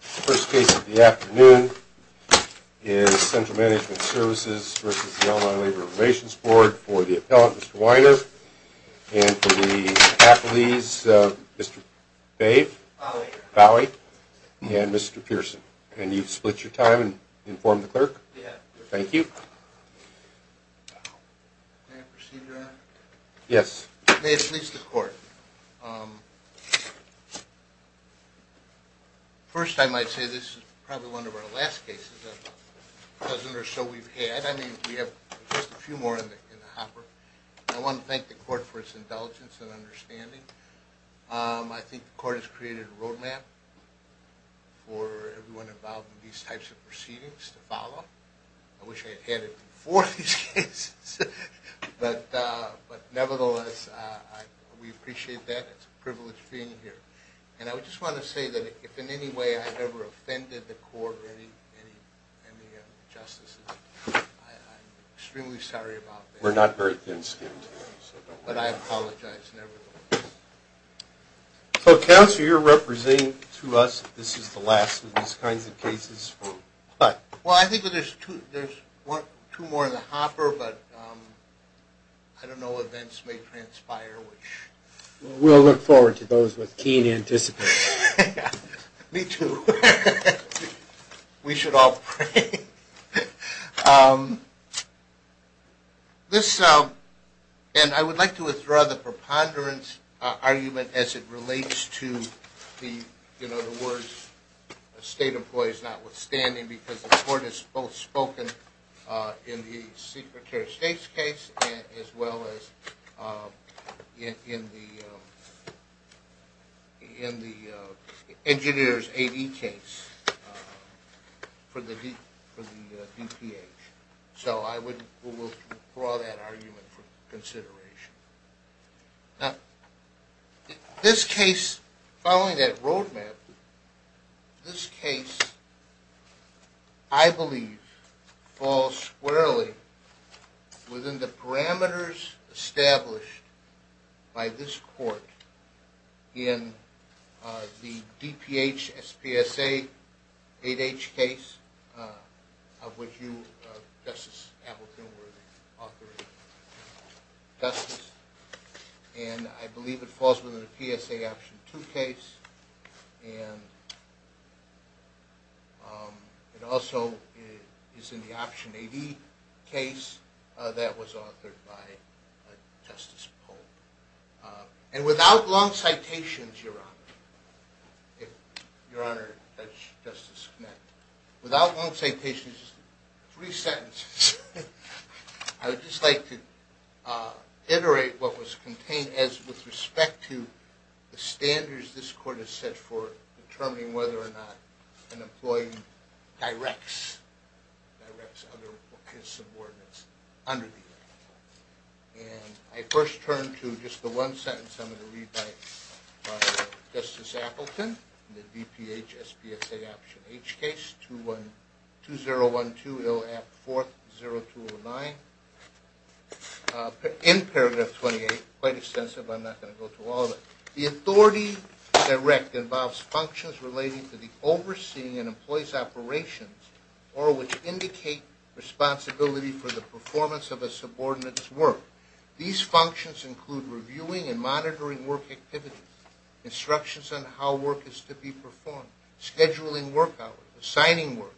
The first case of the afternoon is Central Management Services v. Illinois Labor Relations Board for the appellant, Mr. Weiner, and for the faculty, Mr. Bowe, and Mr. Pearson. Can you split your time and inform the clerk? Thank you. May it please the court. First, I might say this is probably one of our last cases. I mean, we have a few more in the hopper. I want to thank the court for its indulgence and understanding. I think the court has created a roadmap for everyone involved in these types of proceedings to follow. I wish I had had it before these cases, but nevertheless, we appreciate that. It's a privilege being here. And I just want to say that if in any way I've ever offended the court or any of the justices, I'm extremely sorry about that. We're not very thin-skinned. But I apologize nevertheless. So, counsel, you're representing to us that this is the last of these kinds of cases. Well, I think there's two more in the hopper, but I don't know. Events may transpire. We'll look forward to those with keen anticipation. Me, too. We should all pray. This, and I would like to withdraw the preponderance argument as it relates to the, you know, the words state employees notwithstanding, because the court has both spoken in the Secretary of State's case as well as in the engineer's AD case. For the DPH. So I would withdraw that argument for consideration. Now, this case, following that roadmap, this case, I believe, falls squarely within the parameters established by this court in the DPH, SPSA, 8H case of which you, Justice Appleton, were the author of. Justice. And I believe it falls within the PSA Option 2 case. And it also is in the Option AD case that was authored by Justice Polk. And without long citations, Your Honor, if Your Honor, Judge Justice Knett, without long citations, three sentences, I would just like to iterate what was contained as with respect to the standards this court has set for determining whether or not an employee directs his subordinates under the law. And I first turn to just the one sentence I'm going to read by Justice Appleton in the DPH, SPSA Option H case, 201204209. In paragraph 28, quite extensive, I'm not going to go through all of it. The authority direct involves functions relating to the overseeing an employee's operations or which indicate responsibility for the performance of a subordinate's work. These functions include reviewing and monitoring work activities, instructions on how work is to be performed, scheduling work hours, assigning work,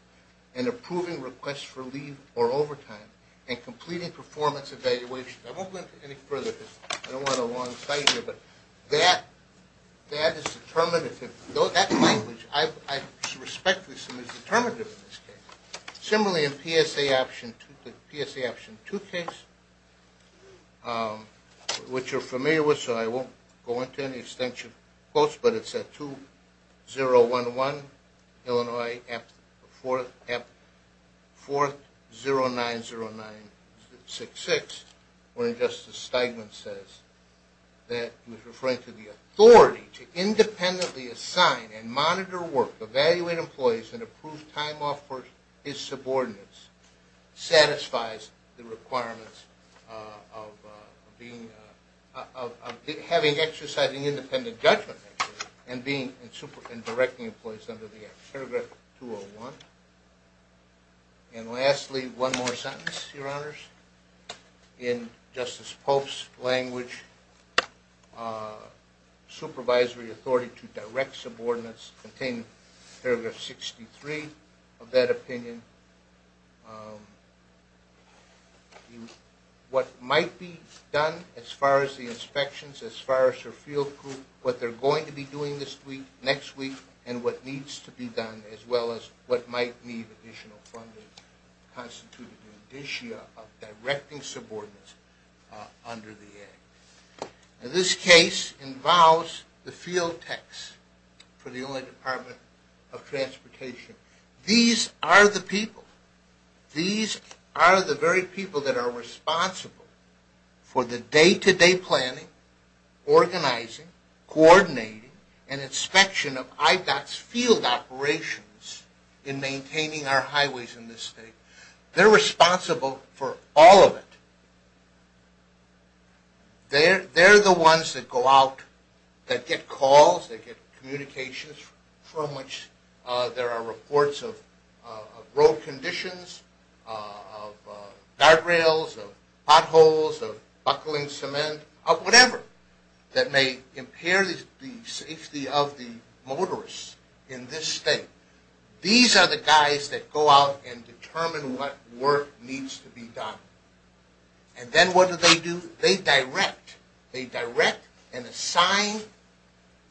and approving requests for leave or overtime, and completing performance evaluations. I won't go into any further because I don't want a long citation. But that is determinative. That language, I respectfully assume, is determinative in this case. When Justice Stiglitz says that he was referring to the authority to independently assign and monitor work, evaluate employees, and approve time off for his subordinates, satisfies the requirements of having exercising independent judgment and directing employees under the act. Paragraph 201. And lastly, one more sentence, Your Honors. In Justice Pope's language, supervisory authority to direct subordinates, contained in paragraph 63 of that opinion, what might be done as far as the inspections, as far as her field group, what they're going to be doing this week, next week, and what needs to be done as well as what might need additional funding, constituted the indicia of directing subordinates under the act. And this case involves the field techs for the Illinois Department of Transportation. These are the people. These are the very people that are responsible for the day-to-day planning, organizing, coordinating, and inspection of IDOT's field operations in maintaining our highways in this state. They're responsible for all of it. They're the ones that go out, that get calls, that get communications from which there are reports of road conditions, of guardrails, of potholes, of buckling cement, of whatever that may impair the safety of the motorists in this state. These are the guys that go out and determine what work needs to be done. And then what do they do? They direct. They direct and assign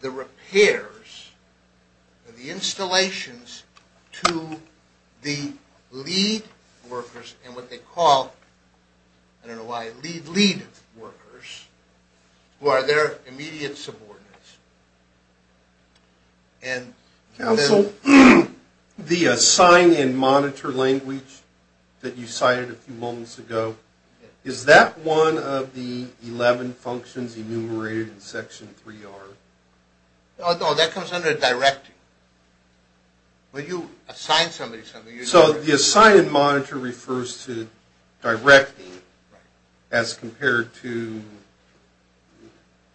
the repairs and the installations to the lead workers and what they call, I don't know why, lead workers, who are their immediate subordinates. Counsel, the assign and monitor language that you cited a few moments ago, is that one of the 11 functions enumerated in Section 3R? No, that comes under directing. When you assign somebody something... So the assign and monitor refers to directing as compared to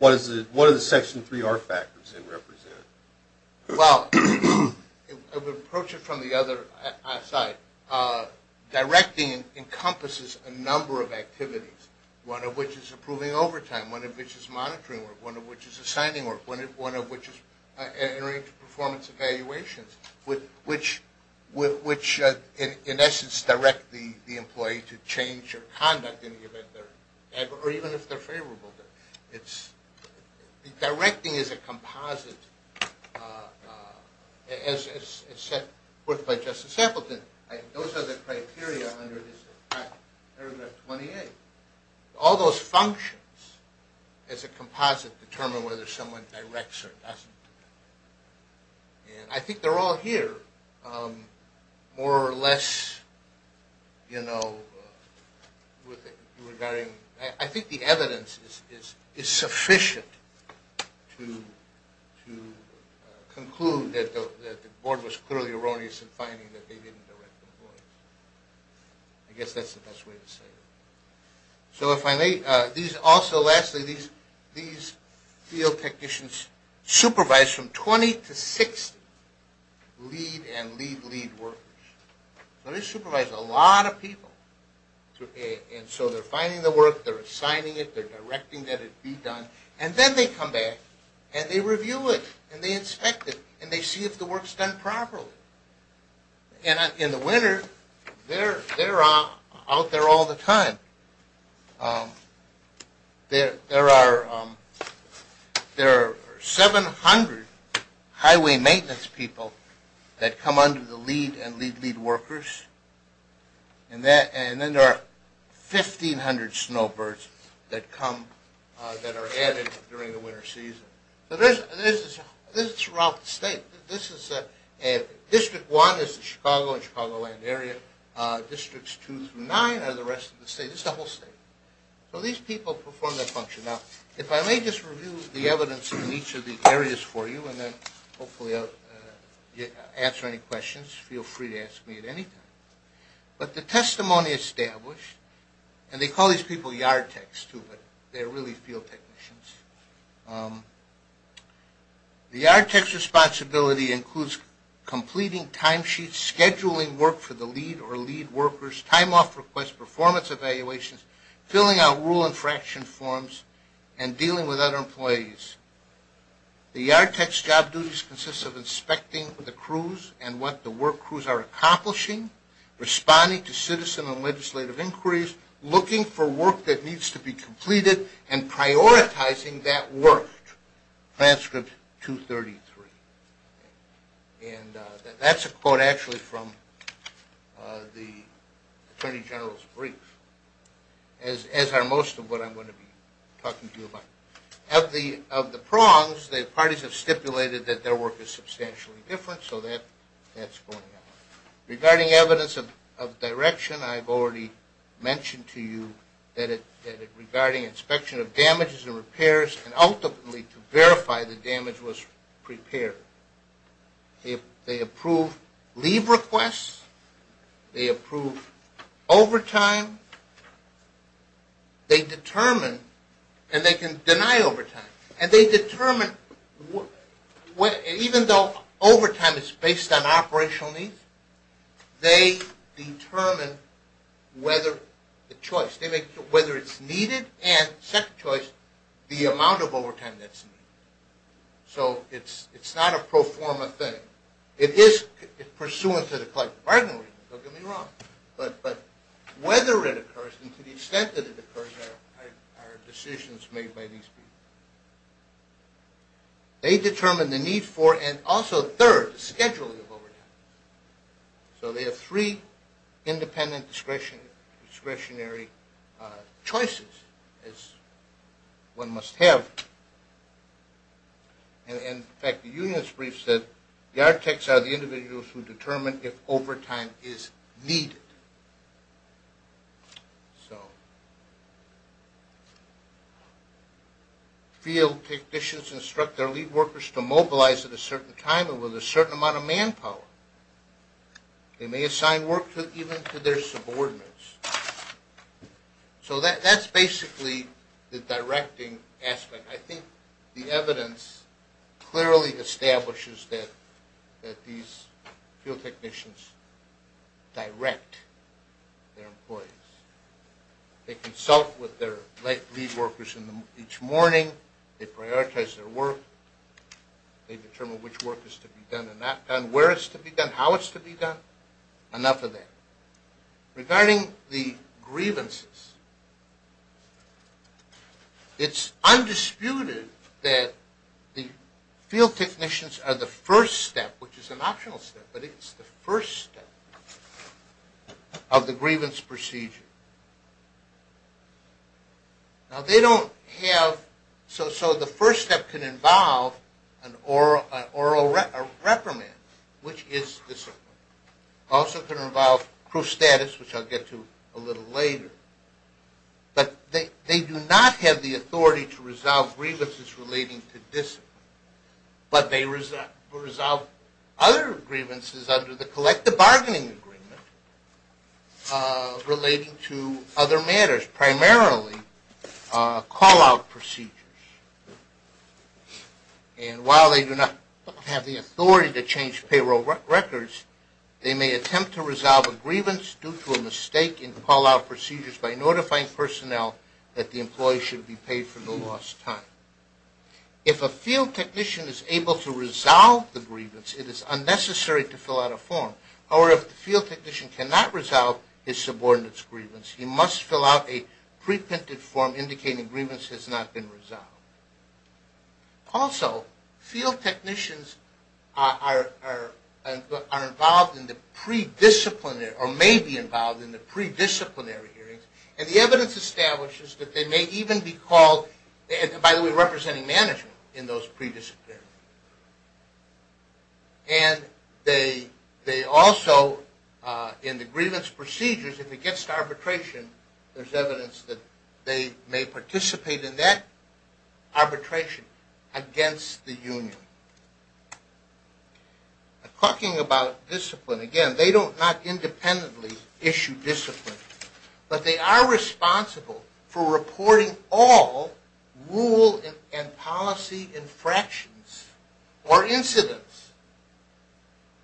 what do the Section 3R factors represent? Well, I would approach it from the other side. Directing encompasses a number of activities, one of which is approving overtime, one of which is monitoring work, one of which is assigning work, one of which is entering performance evaluations, which in essence direct the employee to change their conduct in the event they're... or even if they're favorable. Directing is a composite, as set forth by Justice Appleton. Those are the criteria under paragraph 28. All those functions as a composite determine whether someone directs or doesn't. And I think they're all here. More or less, you know, I think the evidence is sufficient to conclude that the board was clearly erroneous in finding that they didn't direct employees. I guess that's the best way to say it. So if I may, also lastly, these field technicians supervise from 20 to 60 lead and lead-lead workers. So they supervise a lot of people, and so they're finding the work, they're assigning it, they're directing that it be done, and then they come back and they review it and they inspect it and they see if the work's done properly. And in the winter, they're out there all the time. There are 700 highway maintenance people that come under the lead and lead-lead workers, and then there are 1,500 snowbirds that are added during the winter season. So this is throughout the state. District 1 is the Chicago and Chicagoland area. Districts 2 through 9 are the rest of the state. It's the whole state. So these people perform that function. Now, if I may just review the evidence in each of these areas for you and then hopefully answer any questions, feel free to ask me at any time. But the testimony established, and they call these people yard techs, too, but they're really field technicians. The yard tech's responsibility includes completing timesheets, scheduling work for the lead or lead workers, time-off requests, performance evaluations, filling out rule and fraction forms, and dealing with other employees. The yard tech's job duties consist of inspecting the crews and what the work crews are accomplishing, responding to citizen and legislative inquiries, looking for work that needs to be completed, and prioritizing that work. Transcript 233. And that's a quote actually from the Attorney General's brief, as are most of what I'm going to be talking to you about. Of the prongs, the parties have stipulated that their work is substantially different, so that's going on. Regarding evidence of direction, I've already mentioned to you that regarding inspection of damages and repairs and ultimately to verify the damage was prepared. They approve leave requests. They approve overtime. They determine, and they can deny overtime. And they determine, even though overtime is based on operational needs, they determine whether it's needed and the amount of overtime that's needed. So it's not a pro forma thing. It is pursuant to the collective bargaining regime, don't get me wrong. But whether it occurs and to the extent that it occurs are decisions made by these people. They determine the need for, and also third, the scheduling of overtime. So they have three independent discretionary choices, as one must have. And in fact, the union's brief said, the architects are the individuals who determine if overtime is needed. Field technicians instruct their lead workers to mobilize at a certain time and with a certain amount of manpower. They may assign work even to their subordinates. So that's basically the directing aspect. I think the evidence clearly establishes that these field technicians direct their employees. They consult with their lead workers each morning. They prioritize their work. They determine which work is to be done and not done, where it's to be done, how it's to be done. Enough of that. Regarding the grievances, it's undisputed that the field technicians are the first step, which is an optional step, but it's the first step of the grievance procedure. Now they don't have, so the first step can involve an oral reprimand, which is this one. It also can involve proof status, which I'll get to a little later. But they do not have the authority to resolve grievances relating to discipline, but they resolve other grievances under the collective bargaining agreement relating to other matters, primarily call-out procedures. And while they do not have the authority to change payroll records, they may attempt to resolve a grievance due to a mistake in call-out procedures by notifying personnel that the employee should be paid for the lost time. If a field technician is able to resolve the grievance, it is unnecessary to fill out a form. However, if the field technician cannot resolve his subordinate's grievance, he must fill out a pre-printed form indicating grievance has not been resolved. Also, field technicians are involved in the pre-disciplinary, or may be involved in the pre-disciplinary hearings, and the evidence establishes that they may even be called, by the way, representing management in those pre-disciplinary hearings. And they also, in the grievance procedures, if it gets to arbitration, there's evidence that they may participate in that arbitration against the union. Talking about discipline, again, they do not independently issue discipline, but they are responsible for reporting all rule and policy infractions or incidents.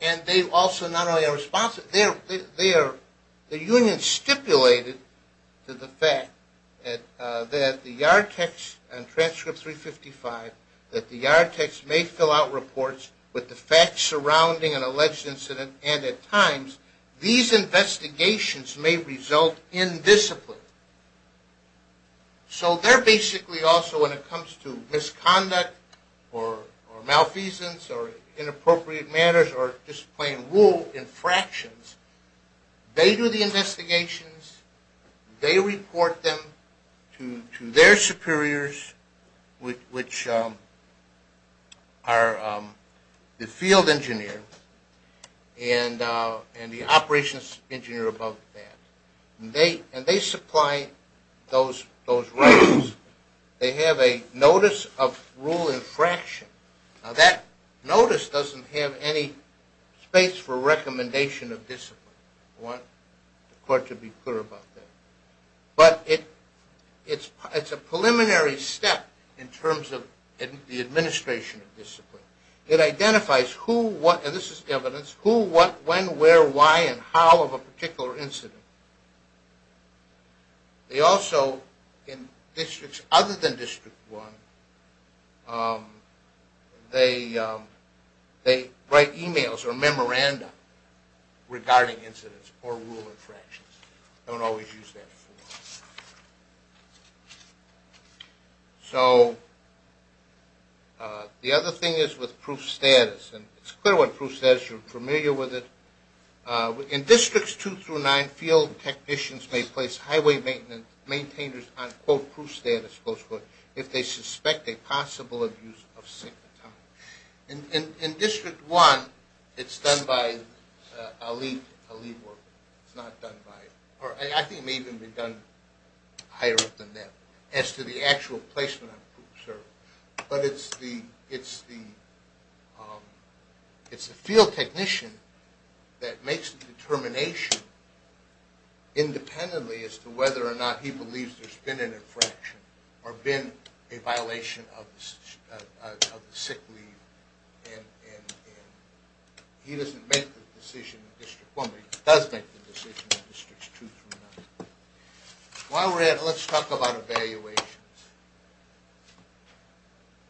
And they also not only are responsible, they are, the union stipulated to the fact that the yard text on transcript 355, that the yard text may fill out reports with the facts surrounding an alleged incident, and at times, these investigations may result in discipline. So they're basically also, when it comes to misconduct or malfeasance or inappropriate manners or discipline rule infractions, they do the investigations, they report them to their superiors, which are the field engineer and the operations engineer above that. And they supply those records. They have a notice of rule infraction. Now that notice doesn't have any space for recommendation of discipline. I want the court to be clear about that. But it's a preliminary step in terms of the administration of discipline. It identifies who, what, and this is evidence, who, what, when, where, why, and how of a particular incident. They also, in districts other than District 1, they write emails or memoranda regarding incidents or rule infractions. They don't always use that form. So the other thing is with proof status, and it's clear what proof status, you're familiar with it. In Districts 2 through 9, field technicians may place highway maintainers on, quote, proof status, close quote, if they suspect a possible abuse of sickness. In District 1, it's done by a lead worker. It's not done by, or I think it may even be done higher up than that, as to the actual placement on proof of service. But it's the field technician that makes the determination independently as to whether or not he believes there's been an infraction or been a violation of the sick leave. He doesn't make the decision in District 1, but he does make the decision in Districts 2 through 9. While we're at it, let's talk about evaluations.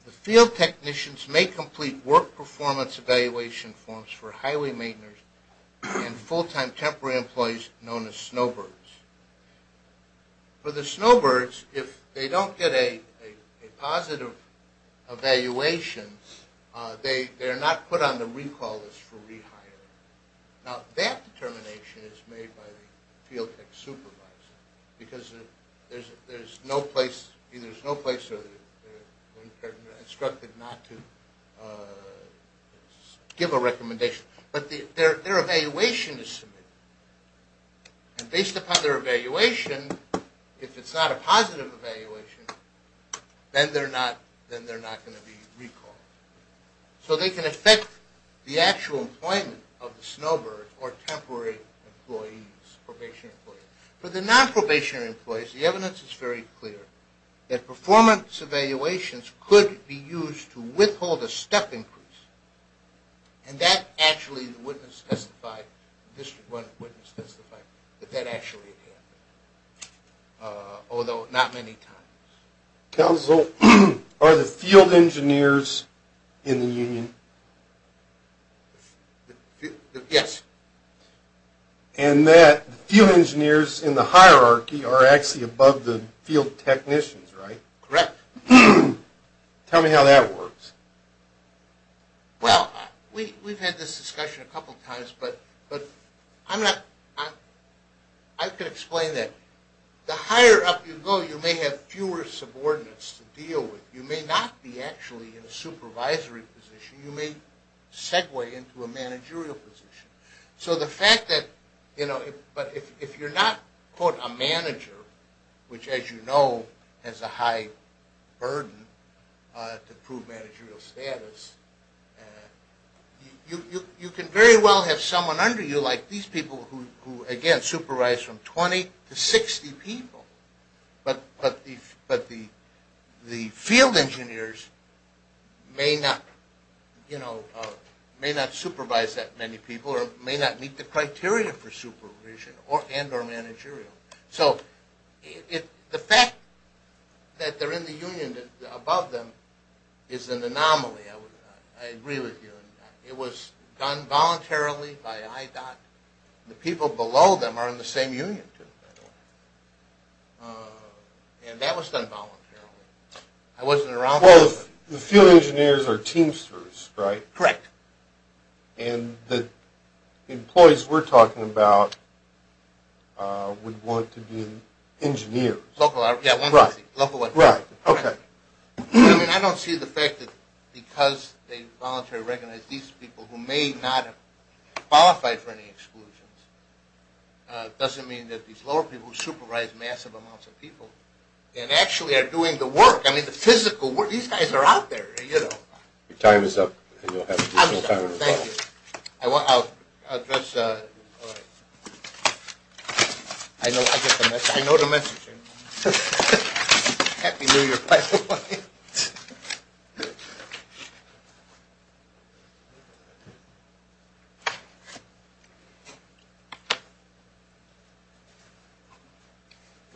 The field technicians may complete work performance evaluation forms for highway maintainers and full-time temporary employees known as snowbirds. For the snowbirds, if they don't get a positive evaluation, they're not put on the recall list for rehiring. Now that determination is made by the field tech supervisor, because there's no place, either there's no place where they're instructed not to give a recommendation. But their evaluation is submitted. And based upon their evaluation, if it's not a positive evaluation, then they're not going to be recalled. So they can affect the actual employment of the snowbird or temporary employees, probationary employees. For the non-probationary employees, the evidence is very clear, that performance evaluations could be used to withhold a step increase. And that actually, the witness testified, the District 1 witness testified, that that actually happened. Although not many times. Counsel, are the field engineers in the union? Yes. And that field engineers in the hierarchy are actually above the field technicians, right? Correct. Tell me how that works. Well, we've had this discussion a couple times, but I'm not, I could explain that. The higher up you go, you may have fewer subordinates to deal with. You may not be actually in a supervisory position. You may segue into a managerial position. So the fact that, you know, but if you're not, quote, a manager, which as you know has a high burden to prove managerial status, you can very well have someone under you like these people who, again, supervise from 20 to 60 people. But the field engineers may not, you know, may not supervise that many people or may not meet the criteria for supervision and or managerial. So the fact that they're in the union above them is an anomaly. I agree with you. It was done voluntarily by IDOT. The people below them are in the same union, too, by the way. And that was done voluntarily. I wasn't around for that. Well, the field engineers are teamsters, right? Correct. And the employees we're talking about would want to be engineers. Local, yeah. Right. Right. Okay. I mean, I don't see the fact that because they voluntarily recognize these people who may not have qualified for any exclusions, it doesn't mean that these lower people who supervise massive amounts of people and actually are doing the work, I mean, the physical work, these guys are out there, you know. Your time is up. I'm done. Thank you. I'll address, all right. I get the message. I know the message. Happy New Year, by the way.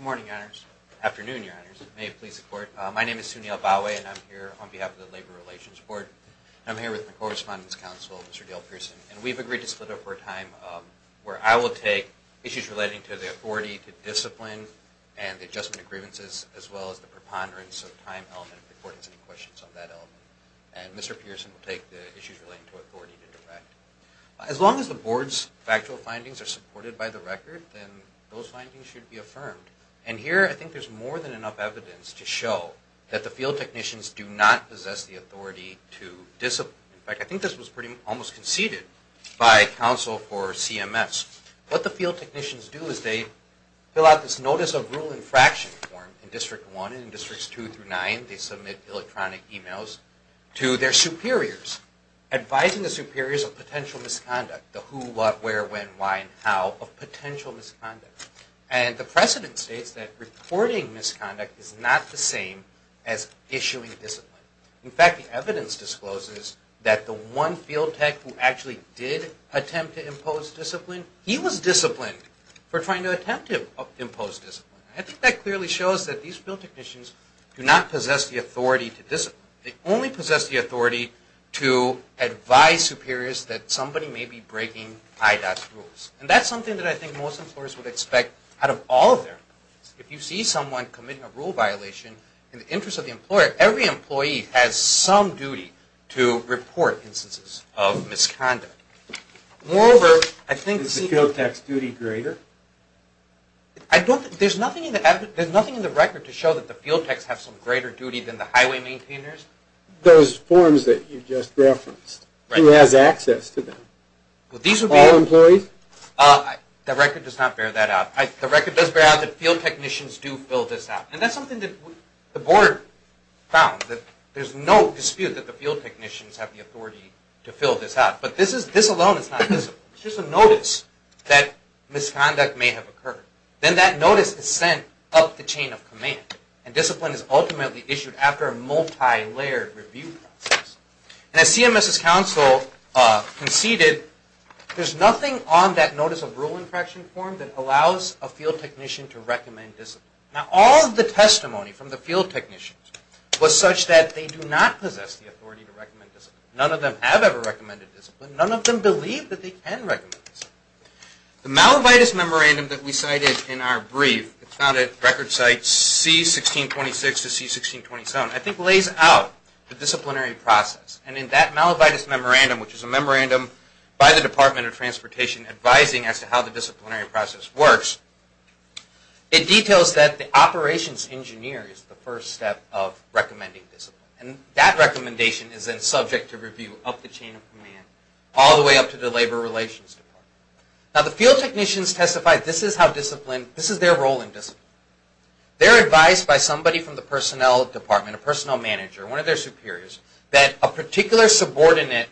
Good morning, Your Honors. Afternoon, Your Honors. May it please the Court. My name is Sunil Bhawe, and I'm here on behalf of the Labor Relations Board. And I'm here with the Correspondence Council, Mr. Dale Pearson. And we've agreed to split up our time where I will take issues relating to the authority, to discipline, and the adjustment of grievances, as well as the preponderance of time element if the Court has any questions on that element. And Mr. Pearson will take the issues relating to authority to direct. As long as the Board's factual findings are supported by the record, then those findings should be affirmed. And here I think there's more than enough evidence to show that the field technicians do not possess the authority to discipline. In fact, I think this was pretty, almost conceded by counsel for CMS. What the field technicians do is they fill out this Notice of Rule Infraction form in District 1 and in Districts 2 through 9. They submit electronic emails to their superiors, advising the superiors of potential misconduct, the who, what, where, when, why, and how of potential misconduct. And the precedent states that reporting misconduct is not the same as issuing discipline. In fact, the evidence discloses that the one field tech who actually did attempt to impose discipline he was disciplined for trying to attempt to impose discipline. I think that clearly shows that these field technicians do not possess the authority to discipline. They only possess the authority to advise superiors that somebody may be breaking IDOT's rules. And that's something that I think most employers would expect out of all of their employees. If you see someone committing a rule violation, in the interest of the employer, every employee has some duty to report instances of misconduct. Moreover, I think... Is the field tech's duty greater? There's nothing in the record to show that the field techs have some greater duty than the highway maintainers. Those forms that you just referenced. Who has access to them? All employees? The record does not bear that out. The record does bear out that field technicians do fill this out. And that's something that the board found. There's no dispute that the field technicians have the authority to fill this out. But this alone is not discipline. It's just a notice that misconduct may have occurred. Then that notice is sent up the chain of command. And discipline is ultimately issued after a multi-layered review process. And as CMS's counsel conceded, there's nothing on that notice of rule infraction form that allows a field technician to recommend discipline. Now all of the testimony from the field technicians was such that they do not possess the authority to recommend discipline. None of them have ever recommended discipline. None of them believe that they can recommend discipline. The Malavitis Memorandum that we cited in our brief, found at record sites C-1626 to C-1627, I think lays out the disciplinary process. And in that Malavitis Memorandum, which is a memorandum by the Department of Transportation advising as to how the disciplinary process works, it details that the operations engineer is the first step of recommending discipline. And that recommendation is then subject to review up the chain of command, all the way up to the Labor Relations Department. Now the field technicians testified this is their role in discipline. They're advised by somebody from the personnel department, a personnel manager, one of their superiors, that a particular subordinate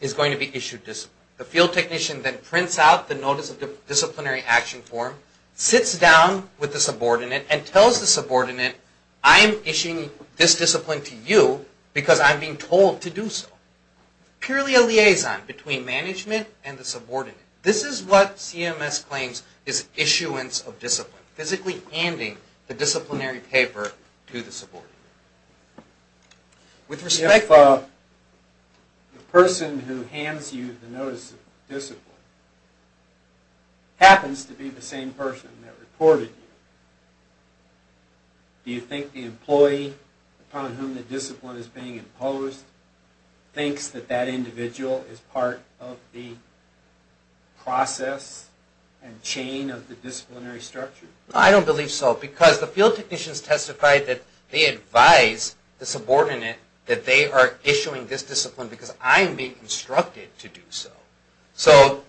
is going to be issued discipline. The field technician then prints out the notice of disciplinary action form, sits down with the subordinate, and tells the subordinate, I'm issuing this discipline to you because I'm being told to do so. Purely a liaison between management and the subordinate. This is what CMS claims is issuance of discipline. Physically handing the disciplinary paper to the subordinate. With respect... If the person who hands you the notice of discipline happens to be the same person that reported you, do you think the employee upon whom the discipline is being imposed thinks that that individual is part of the process and chain of the disciplinary structure? I don't believe so. Because the field technicians testified that they advise the subordinate that they are issuing this discipline because I am being instructed to do so. So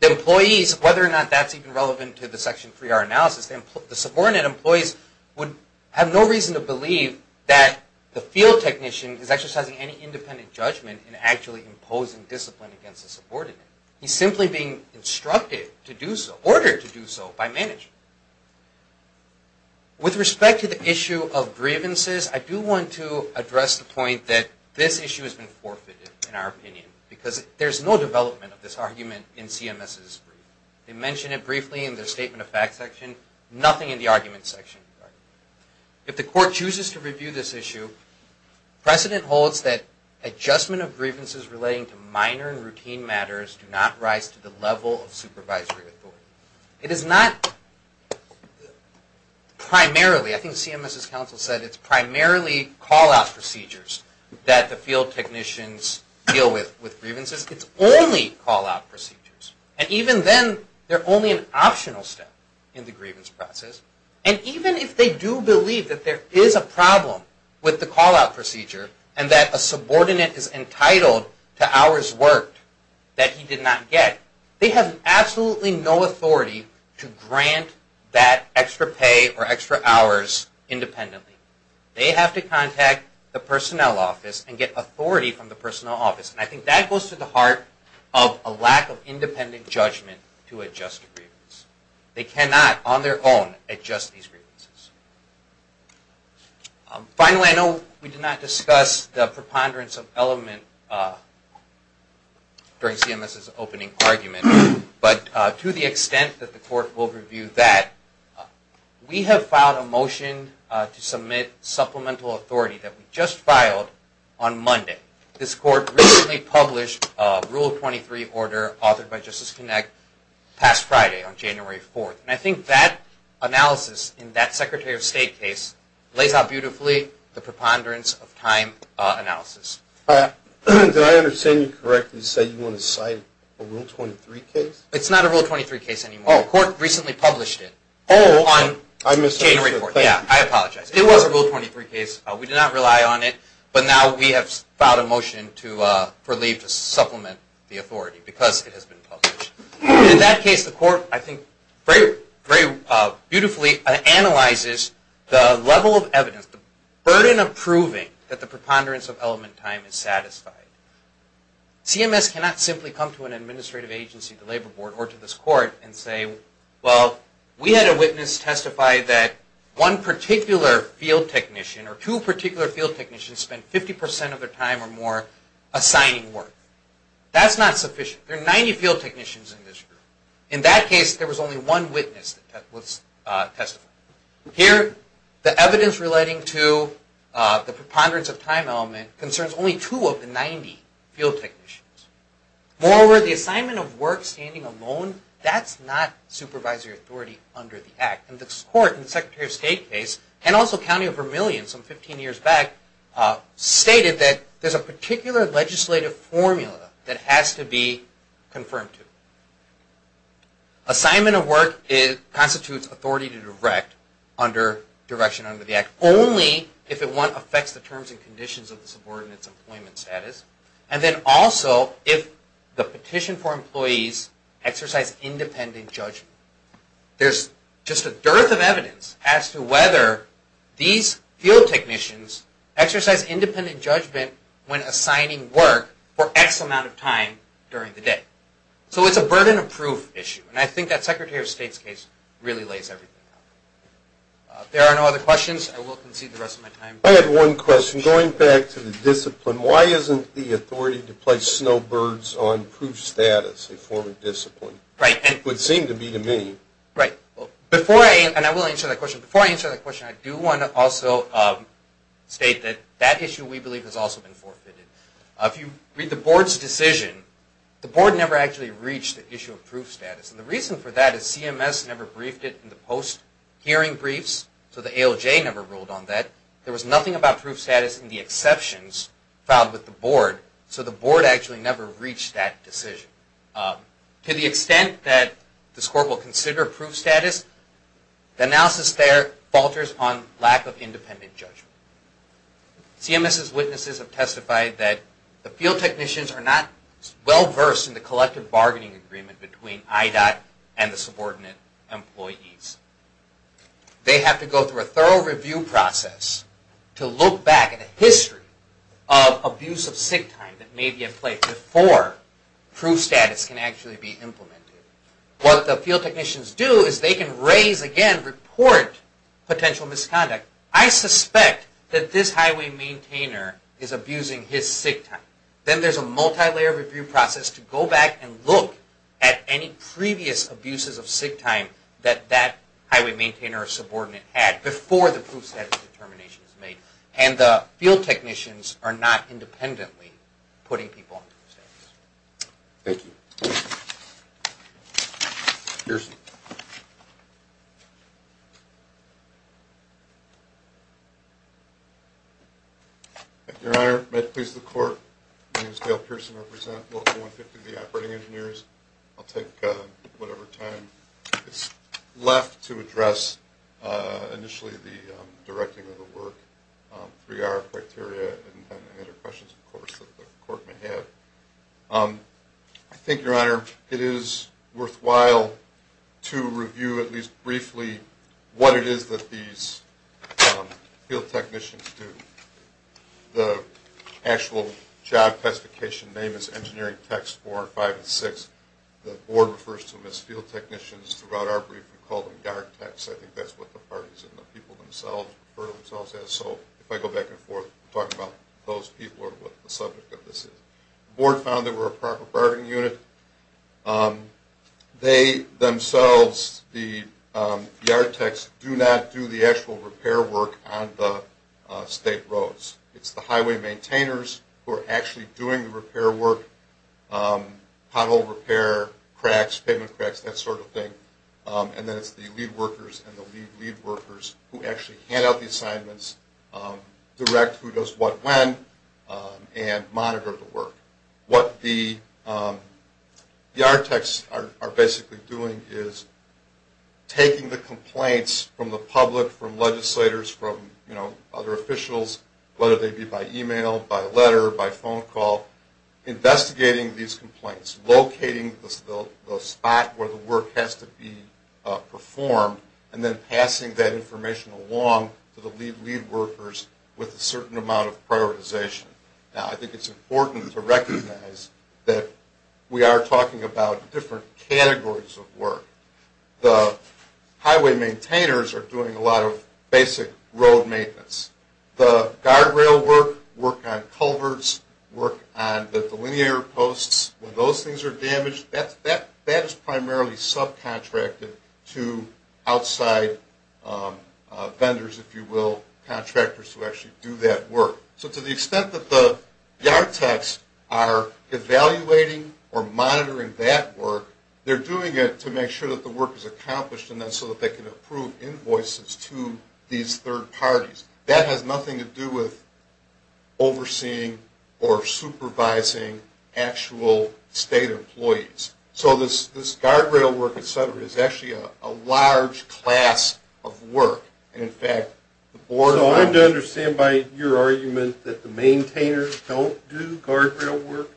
the employees, whether or not that's even relevant to the Section 3R analysis, the subordinate employees would have no reason to believe that the field technician is exercising any independent judgment in actually imposing discipline against the subordinate. He's simply being instructed to do so, ordered to do so, by management. With respect to the issue of grievances, I do want to address the point that this issue has been forfeited in our opinion. Because there's no development of this argument in CMS's brief. They mention it briefly in their Statement of Facts section, nothing in the Arguments section. If the Court chooses to review this issue, precedent holds that adjustment of grievances relating to minor and routine matters do not rise to the level of supervisory authority. It is not primarily, I think CMS's counsel said, it's primarily call-out procedures that the field technicians deal with grievances. It's only call-out procedures. And even then, they're only an optional step in the grievance process. And even if they do believe that there is a problem with the call-out procedure and that a subordinate is entitled to hours worked that he did not get, they have absolutely no authority to grant that extra pay or extra hours independently. They have to contact the personnel office and get authority from the personnel office. And I think that goes to the heart of a lack of independent judgment to adjust a grievance. They cannot, on their own, adjust these grievances. Finally, I know we did not discuss the preponderance of element during CMS's opening argument, but to the extent that the Court will review that, we have filed a motion to submit supplemental authority that we just filed on Monday. This Court recently published a Rule 23 order authored by Justice Connect past Friday on January 4th. And I think that analysis in that Secretary of State case lays out beautifully the preponderance of time analysis. Did I understand you correctly to say you want to cite a Rule 23 case? It's not a Rule 23 case anymore. The Court recently published it on January 4th. I apologize. It was a Rule 23 case. We did not rely on it. But now we have filed a motion to relieve, to supplement the authority because it has been published. In that case, the Court, I think, very beautifully analyzes the level of evidence, the burden of proving that the preponderance of element time is satisfied. CMS cannot simply come to an administrative agency, the Labor Board, or to this Court and say, well, we had a witness testify that one particular field technician or two particular field technicians spent 50% of their time or more assigning work. That's not sufficient. There are 90 field technicians in this group. In that case, there was only one witness that was testifying. Here, the evidence relating to the preponderance of time element concerns only two of the 90 field technicians. Moreover, the assignment of work standing alone, that's not supervisory authority under the Act. And this Court in the Secretary of State case, and also County of Vermilion some 15 years back, stated that there's a particular legislative formula that has to be confirmed to. Assignment of work constitutes authority to direct under direction under the Act, only if it affects the terms and conditions of the subordinate's employment status, and then also if the petition for employees exercise independent judgment. There's just a dearth of evidence as to whether these field technicians exercise independent judgment when assigning work for X amount of time during the day. So it's a burden of proof issue, and I think that Secretary of State's case really lays everything out. If there are no other questions, I will concede the rest of my time. I had one question. Going back to the discipline, why isn't the authority to place snowbirds on proof status a form of discipline? It would seem to be to me. Right. Before I answer that question, I do want to also state that that issue, we believe, has also been forfeited. If you read the Board's decision, the Board never actually reached the issue of proof status. And the reason for that is CMS never briefed it in the post-hearing briefs, so the ALJ never ruled on that. There was nothing about proof status in the exceptions filed with the Board, so the Board actually never reached that decision. To the extent that this Court will consider proof status, the analysis there falters on lack of independent judgment. CMS's witnesses have testified that the field technicians are not well-versed in the collective bargaining agreement between IDOT and the subordinate employees. They have to go through a thorough review process to look back at a history of abuse of sick time that may be in place before proof status can actually be implemented. What the field technicians do is they can raise, again, report potential misconduct. I suspect that this highway maintainer is abusing his sick time. Then there's a multi-layer review process to go back and look at any previous abuses of sick time that that highway maintainer or subordinate had before the proof status determination is made. And the field technicians are not independently putting people on proof status. Thank you. Thank you, Your Honor. May it please the Court, my name is Dale Pearson. I represent Local 150, the Operating Engineers. I'll take whatever time is left to address initially the directing of the work, 3R criteria, and any other questions, of course, that the Court may have. I think, Your Honor, it is worthwhile to review at least briefly what it is that these field technicians do. The actual job classification name is Engineering Techs 4, 5, and 6. The Board refers to them as field technicians. Throughout our brief, we call them yard techs. I think that's what the parties and the people themselves refer to themselves as. So if I go back and forth, we'll talk about those people or what the subject of this is. The Board found they were a proper bargaining unit. They themselves, the yard techs, do not do the actual repair work on the state roads. It's the highway maintainers who are actually doing the repair work, pothole repair, cracks, pavement cracks, that sort of thing. And then it's the lead workers and the lead lead workers who actually hand out the assignments, direct who does what when, and monitor the work. What the yard techs are basically doing is taking the complaints from the public, from legislators, from other officials, whether they be by email, by letter, by phone call, investigating these complaints, locating the spot where the work has to be performed, and then passing that information along to the lead lead workers with a certain amount of prioritization. Now, I think it's important to recognize that we are talking about different categories of work. The highway maintainers are doing a lot of basic road maintenance. The guardrail work, work on culverts, work on the linear posts, when those things are damaged, that is primarily subcontracted to outside vendors, if you will, contractors who actually do that work. So to the extent that the yard techs are evaluating or monitoring that work, they're doing it to make sure that the work is accomplished and then so that they can approve invoices to these third parties. That has nothing to do with overseeing or supervising actual state employees. So this guardrail work, et cetera, is actually a large class of work. So I'm to understand by your argument that the maintainers don't do guardrail work?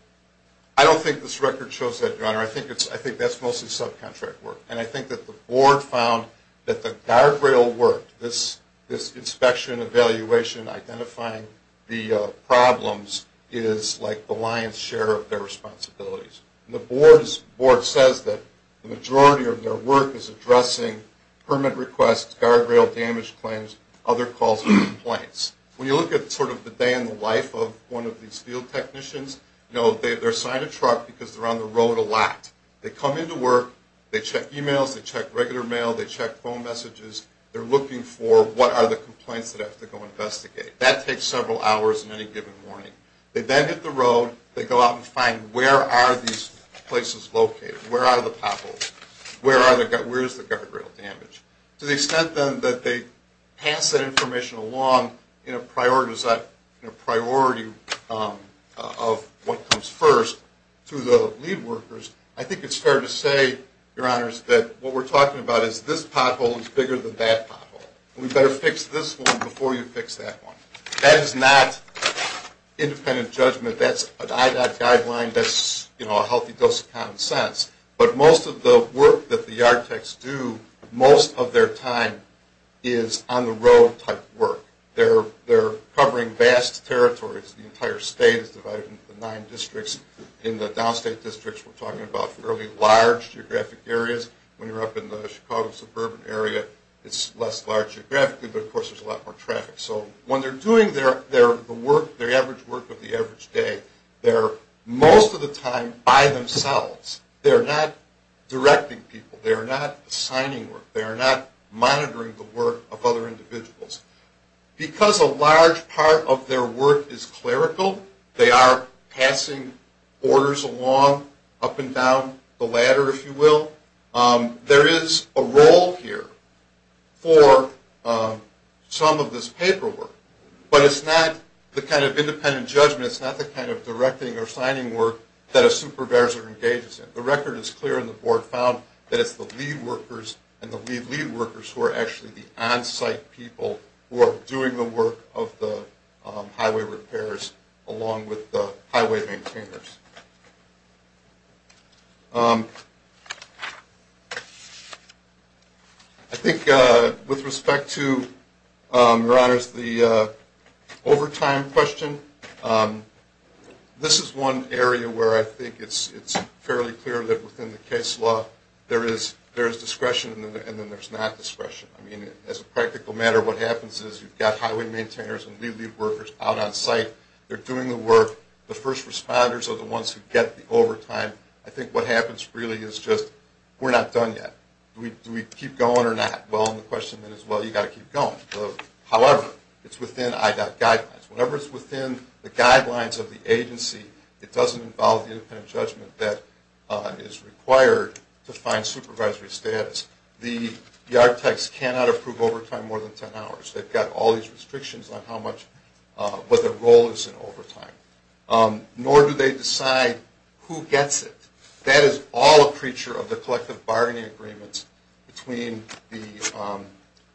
I don't think this record shows that, Your Honor. I think that's mostly subcontract work. And I think that the board found that the guardrail work, this inspection, evaluation, identifying the problems is like the lion's share of their responsibilities. And the board says that the majority of their work is addressing permit requests, guardrail damage claims, other calls for complaints. When you look at sort of the day in the life of one of these field technicians, you know, they're assigned a truck because they're on the road a lot. They come into work. They check e-mails. They check regular mail. They check phone messages. They're looking for what are the complaints that have to go investigated. That takes several hours in any given morning. They then hit the road. They go out and find where are these places located. Where are the potholes? Where is the guardrail damage? To the extent, then, that they pass that information along in a priority of what comes first to the lead workers, I think it's fair to say, Your Honors, that what we're talking about is this pothole is bigger than that pothole. We better fix this one before you fix that one. That is not independent judgment. That's an IDOT guideline. That's, you know, a healthy dose of common sense. But most of the work that the yard techs do, most of their time is on-the-road type work. They're covering vast territories. The entire state is divided into nine districts. In the downstate districts, we're talking about fairly large geographic areas. When you're up in the Chicago suburban area, it's less large geographically, but, of course, there's a lot more traffic. So when they're doing their work, their average work of the average day, they're most of the time by themselves. They're not directing people. They're not assigning work. They're not monitoring the work of other individuals. Because a large part of their work is clerical, they are passing orders along, up and down the ladder, if you will. There is a role here for some of this paperwork. But it's not the kind of independent judgment. It's not the kind of directing or assigning work that a supervisor engages in. The record is clear, and the board found that it's the lead workers and the lead lead workers who are actually the on-site people who are doing the work of the highway repairs along with the highway maintainers. I think with respect to, Your Honors, the overtime question, this is one area where I think it's fairly clear that, within the case law, there is discretion and then there's not discretion. I mean, as a practical matter, what happens is you've got highway maintainers and lead lead workers out on site. They're doing the work. The first responders are the ones who get the overtime. I think what happens really is just, we're not done yet. Do we keep going or not? Well, the question then is, well, you've got to keep going. However, it's within IDOT guidelines. Whenever it's within the guidelines of the agency, it doesn't involve the independent judgment that is required to find supervisory status. The architects cannot approve overtime more than 10 hours. They've got all these restrictions on what their role is in overtime. Nor do they decide who gets it. That is all a creature of the collective bargaining agreements between the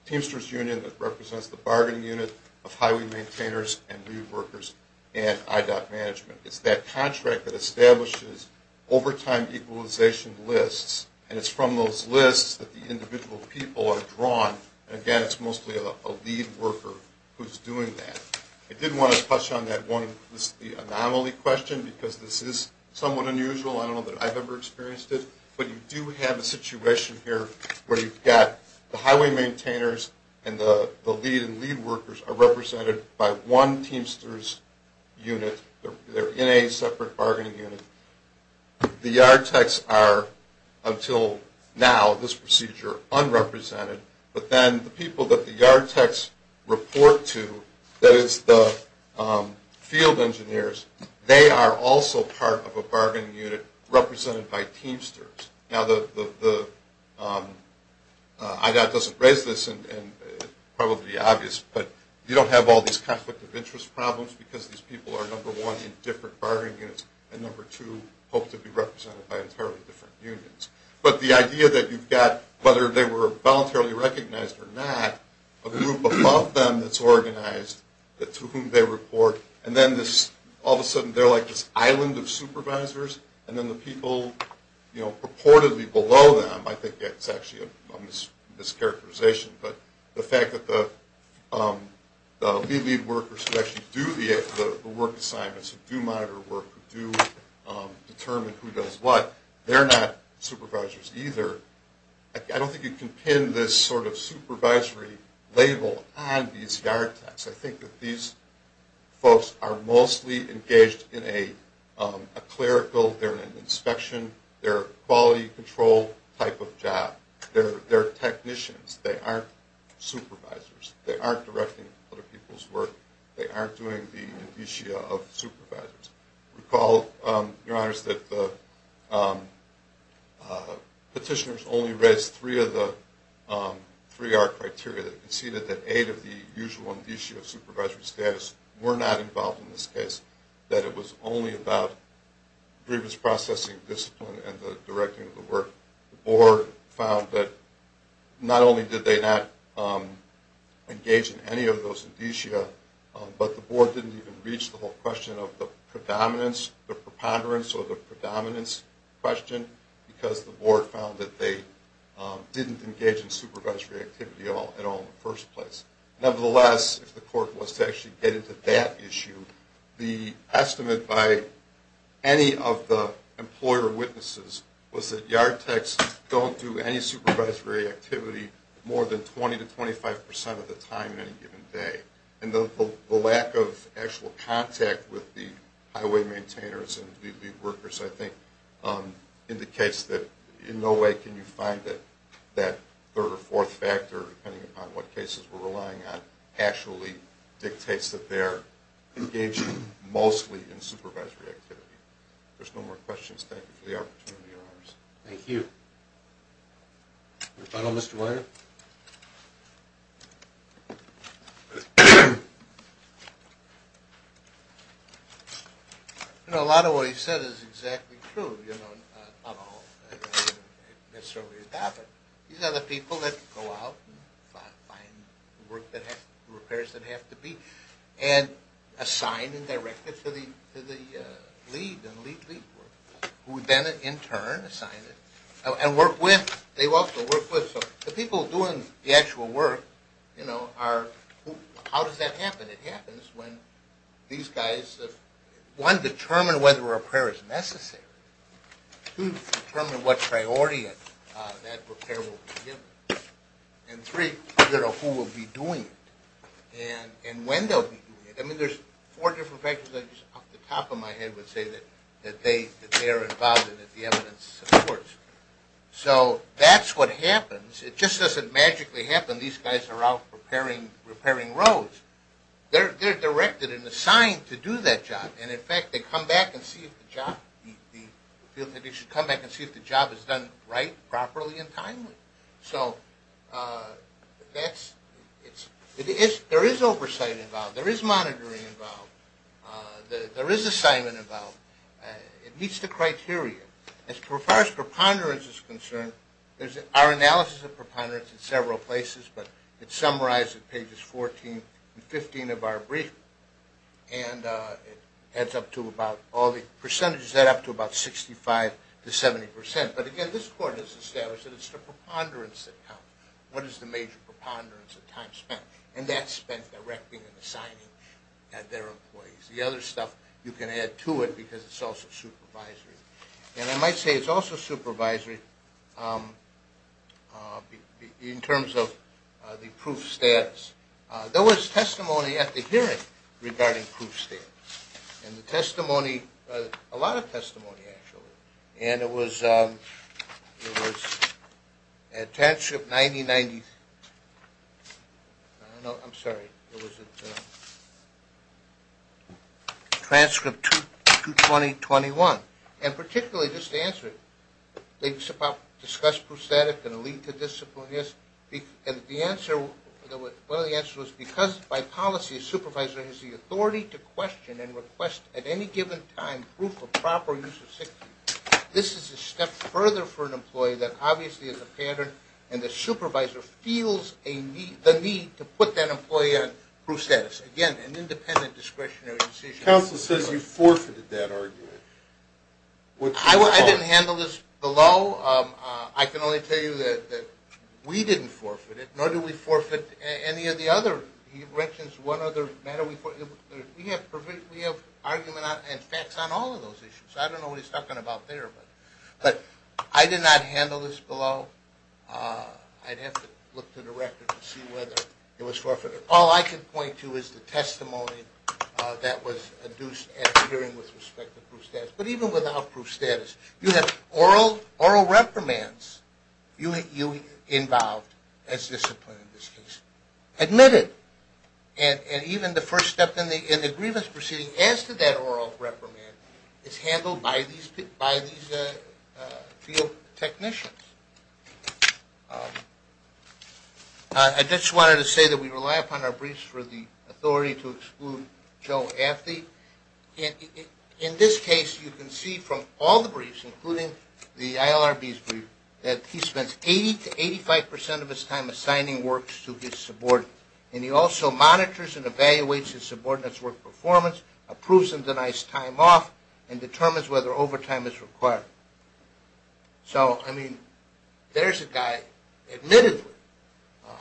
Teamsters Union, that represents the bargaining unit of highway maintainers and lead workers, and IDOT management. It's that contract that establishes overtime equalization lists, and it's from those lists that the individual people are drawn. Again, it's mostly a lead worker who's doing that. I did want to touch on that one anomaly question because this is somewhat unusual. I don't know that I've ever experienced it, but you do have a situation here where you've got the highway maintainers and the lead and lead workers are represented by one Teamsters unit. They're in a separate bargaining unit. The yard techs are, until now, this procedure, unrepresented. But then the people that the yard techs report to, that is the field engineers, they are also part of a bargaining unit represented by Teamsters. Now, IDOT doesn't raise this, and it's probably obvious, but you don't have all these conflict of interest problems because these people are, number one, in different bargaining units, and number two, hope to be represented by entirely different unions. But the idea that you've got, whether they were voluntarily recognized or not, a group above them that's organized to whom they report, and then all of a sudden they're like this island of supervisors, and then the people purportedly below them, I think that's actually a mischaracterization. But the fact that the lead and lead workers who actually do the work assignments, who do monitor work, who do determine who does what, they're not supervisors either. I don't think you can pin this sort of supervisory label on these yard techs. I think that these folks are mostly engaged in a clerical, they're in an inspection, they're quality control type of job. They're technicians. They aren't supervisors. They aren't directing other people's work. They aren't doing the indicia of supervisors. Recall, Your Honors, that the petitioners only raised three of the three-R criteria. They conceded that eight of the usual indicia of supervisory status were not involved in this case, that it was only about grievance processing, discipline, and the directing of the work. The board found that not only did they not engage in any of those indicia, but the board didn't even reach the whole question of the predominance, the preponderance, question, because the board found that they didn't engage in supervisory activity at all in the first place. Nevertheless, if the court was to actually get into that issue, the estimate by any of the employer witnesses was that yard techs don't do any supervisory activity more than 20 to 25 percent of the time in any given day. And the lack of actual contact with the highway maintainers and the lead workers, I think, indicates that in no way can you find that that third or fourth factor, depending upon what cases we're relying on, actually dictates that they're engaging mostly in supervisory activity. If there's no more questions, thank you for the opportunity, Your Honors. Thank you. Your final, Mr. Weiner. You know, a lot of what he said is exactly true, you know, not all necessarily is that, but these are the people that go out and find work that has, repairs that have to be, and assign and direct it to the lead and lead lead workers, who then in turn assign it and work with, they also work with. So the people doing the actual work, you know, are, how does that happen? It happens when these guys, one, determine whether a repair is necessary. Two, determine what priority that repair will be given. And three, figure out who will be doing it and when they'll be doing it. I mean, there's four different factors I just, off the top of my head, would say that they're involved and that the evidence supports. So that's what happens. It just doesn't magically happen. These guys are out repairing roads. They're directed and assigned to do that job. And, in fact, they come back and see if the job is done right, properly, and timely. So that's, there is oversight involved. There is monitoring involved. There is assignment involved. It meets the criteria. As far as preponderance is concerned, there's our analysis of preponderance in several places, but it's summarized at pages 14 and 15 of our brief. And it adds up to about, all the percentages add up to about 65 to 70%. But, again, this court has established that it's the preponderance that counts. What is the major preponderance of time spent? And that's spent directing and assigning at their employees. The other stuff you can add to it because it's also supervisory. And I might say it's also supervisory in terms of the proof status. There was testimony at the hearing regarding proof status. And the testimony, a lot of testimony, actually. And it was at transcript 9090. No, I'm sorry. It was at transcript 22021. And, particularly, just to answer it, they discussed proof of status and the lead to discipline. And the answer, one of the answers was, because by policy a supervisor has the authority to question and request at any given time proof of proper use of sixty, this is a step further for an employee that obviously is a pattern and the supervisor feels the need to put that employee on proof status. Again, an independent discretionary decision. Counsel says you forfeited that argument. I didn't handle this below. I can only tell you that we didn't forfeit it, nor do we forfeit any of the other. He mentions one other matter. We have argument and facts on all of those issues. I don't know what he's talking about there. But I did not handle this below. I'd have to look to the record to see whether it was forfeited. All I can point to is the testimony that was adduced at the hearing with respect to proof status. But even without proof status, you have oral reprimands. You're involved as discipline in this case. Admitted. And even the first step in the grievance proceeding as to that oral reprimand is handled by these field technicians. I just wanted to say that we rely upon our briefs for the authority to exclude Joe Afti. In this case, you can see from all the briefs, including the ILRB's brief, that he spends 80% to 85% of his time assigning works to his subordinates. And he also monitors and evaluates his subordinates' work performance, approves and denies time off, and determines whether overtime is required. So, I mean, there's a guy, admittedly,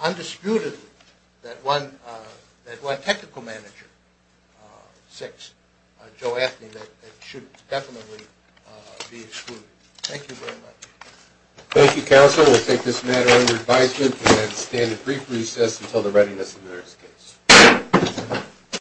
undisputedly, that won technical manager 6, Joe Afti, that should definitely be excluded. Thank you very much. Thank you, counsel. We'll take this matter under advisement and stand at brief recess until the readiness of the next case.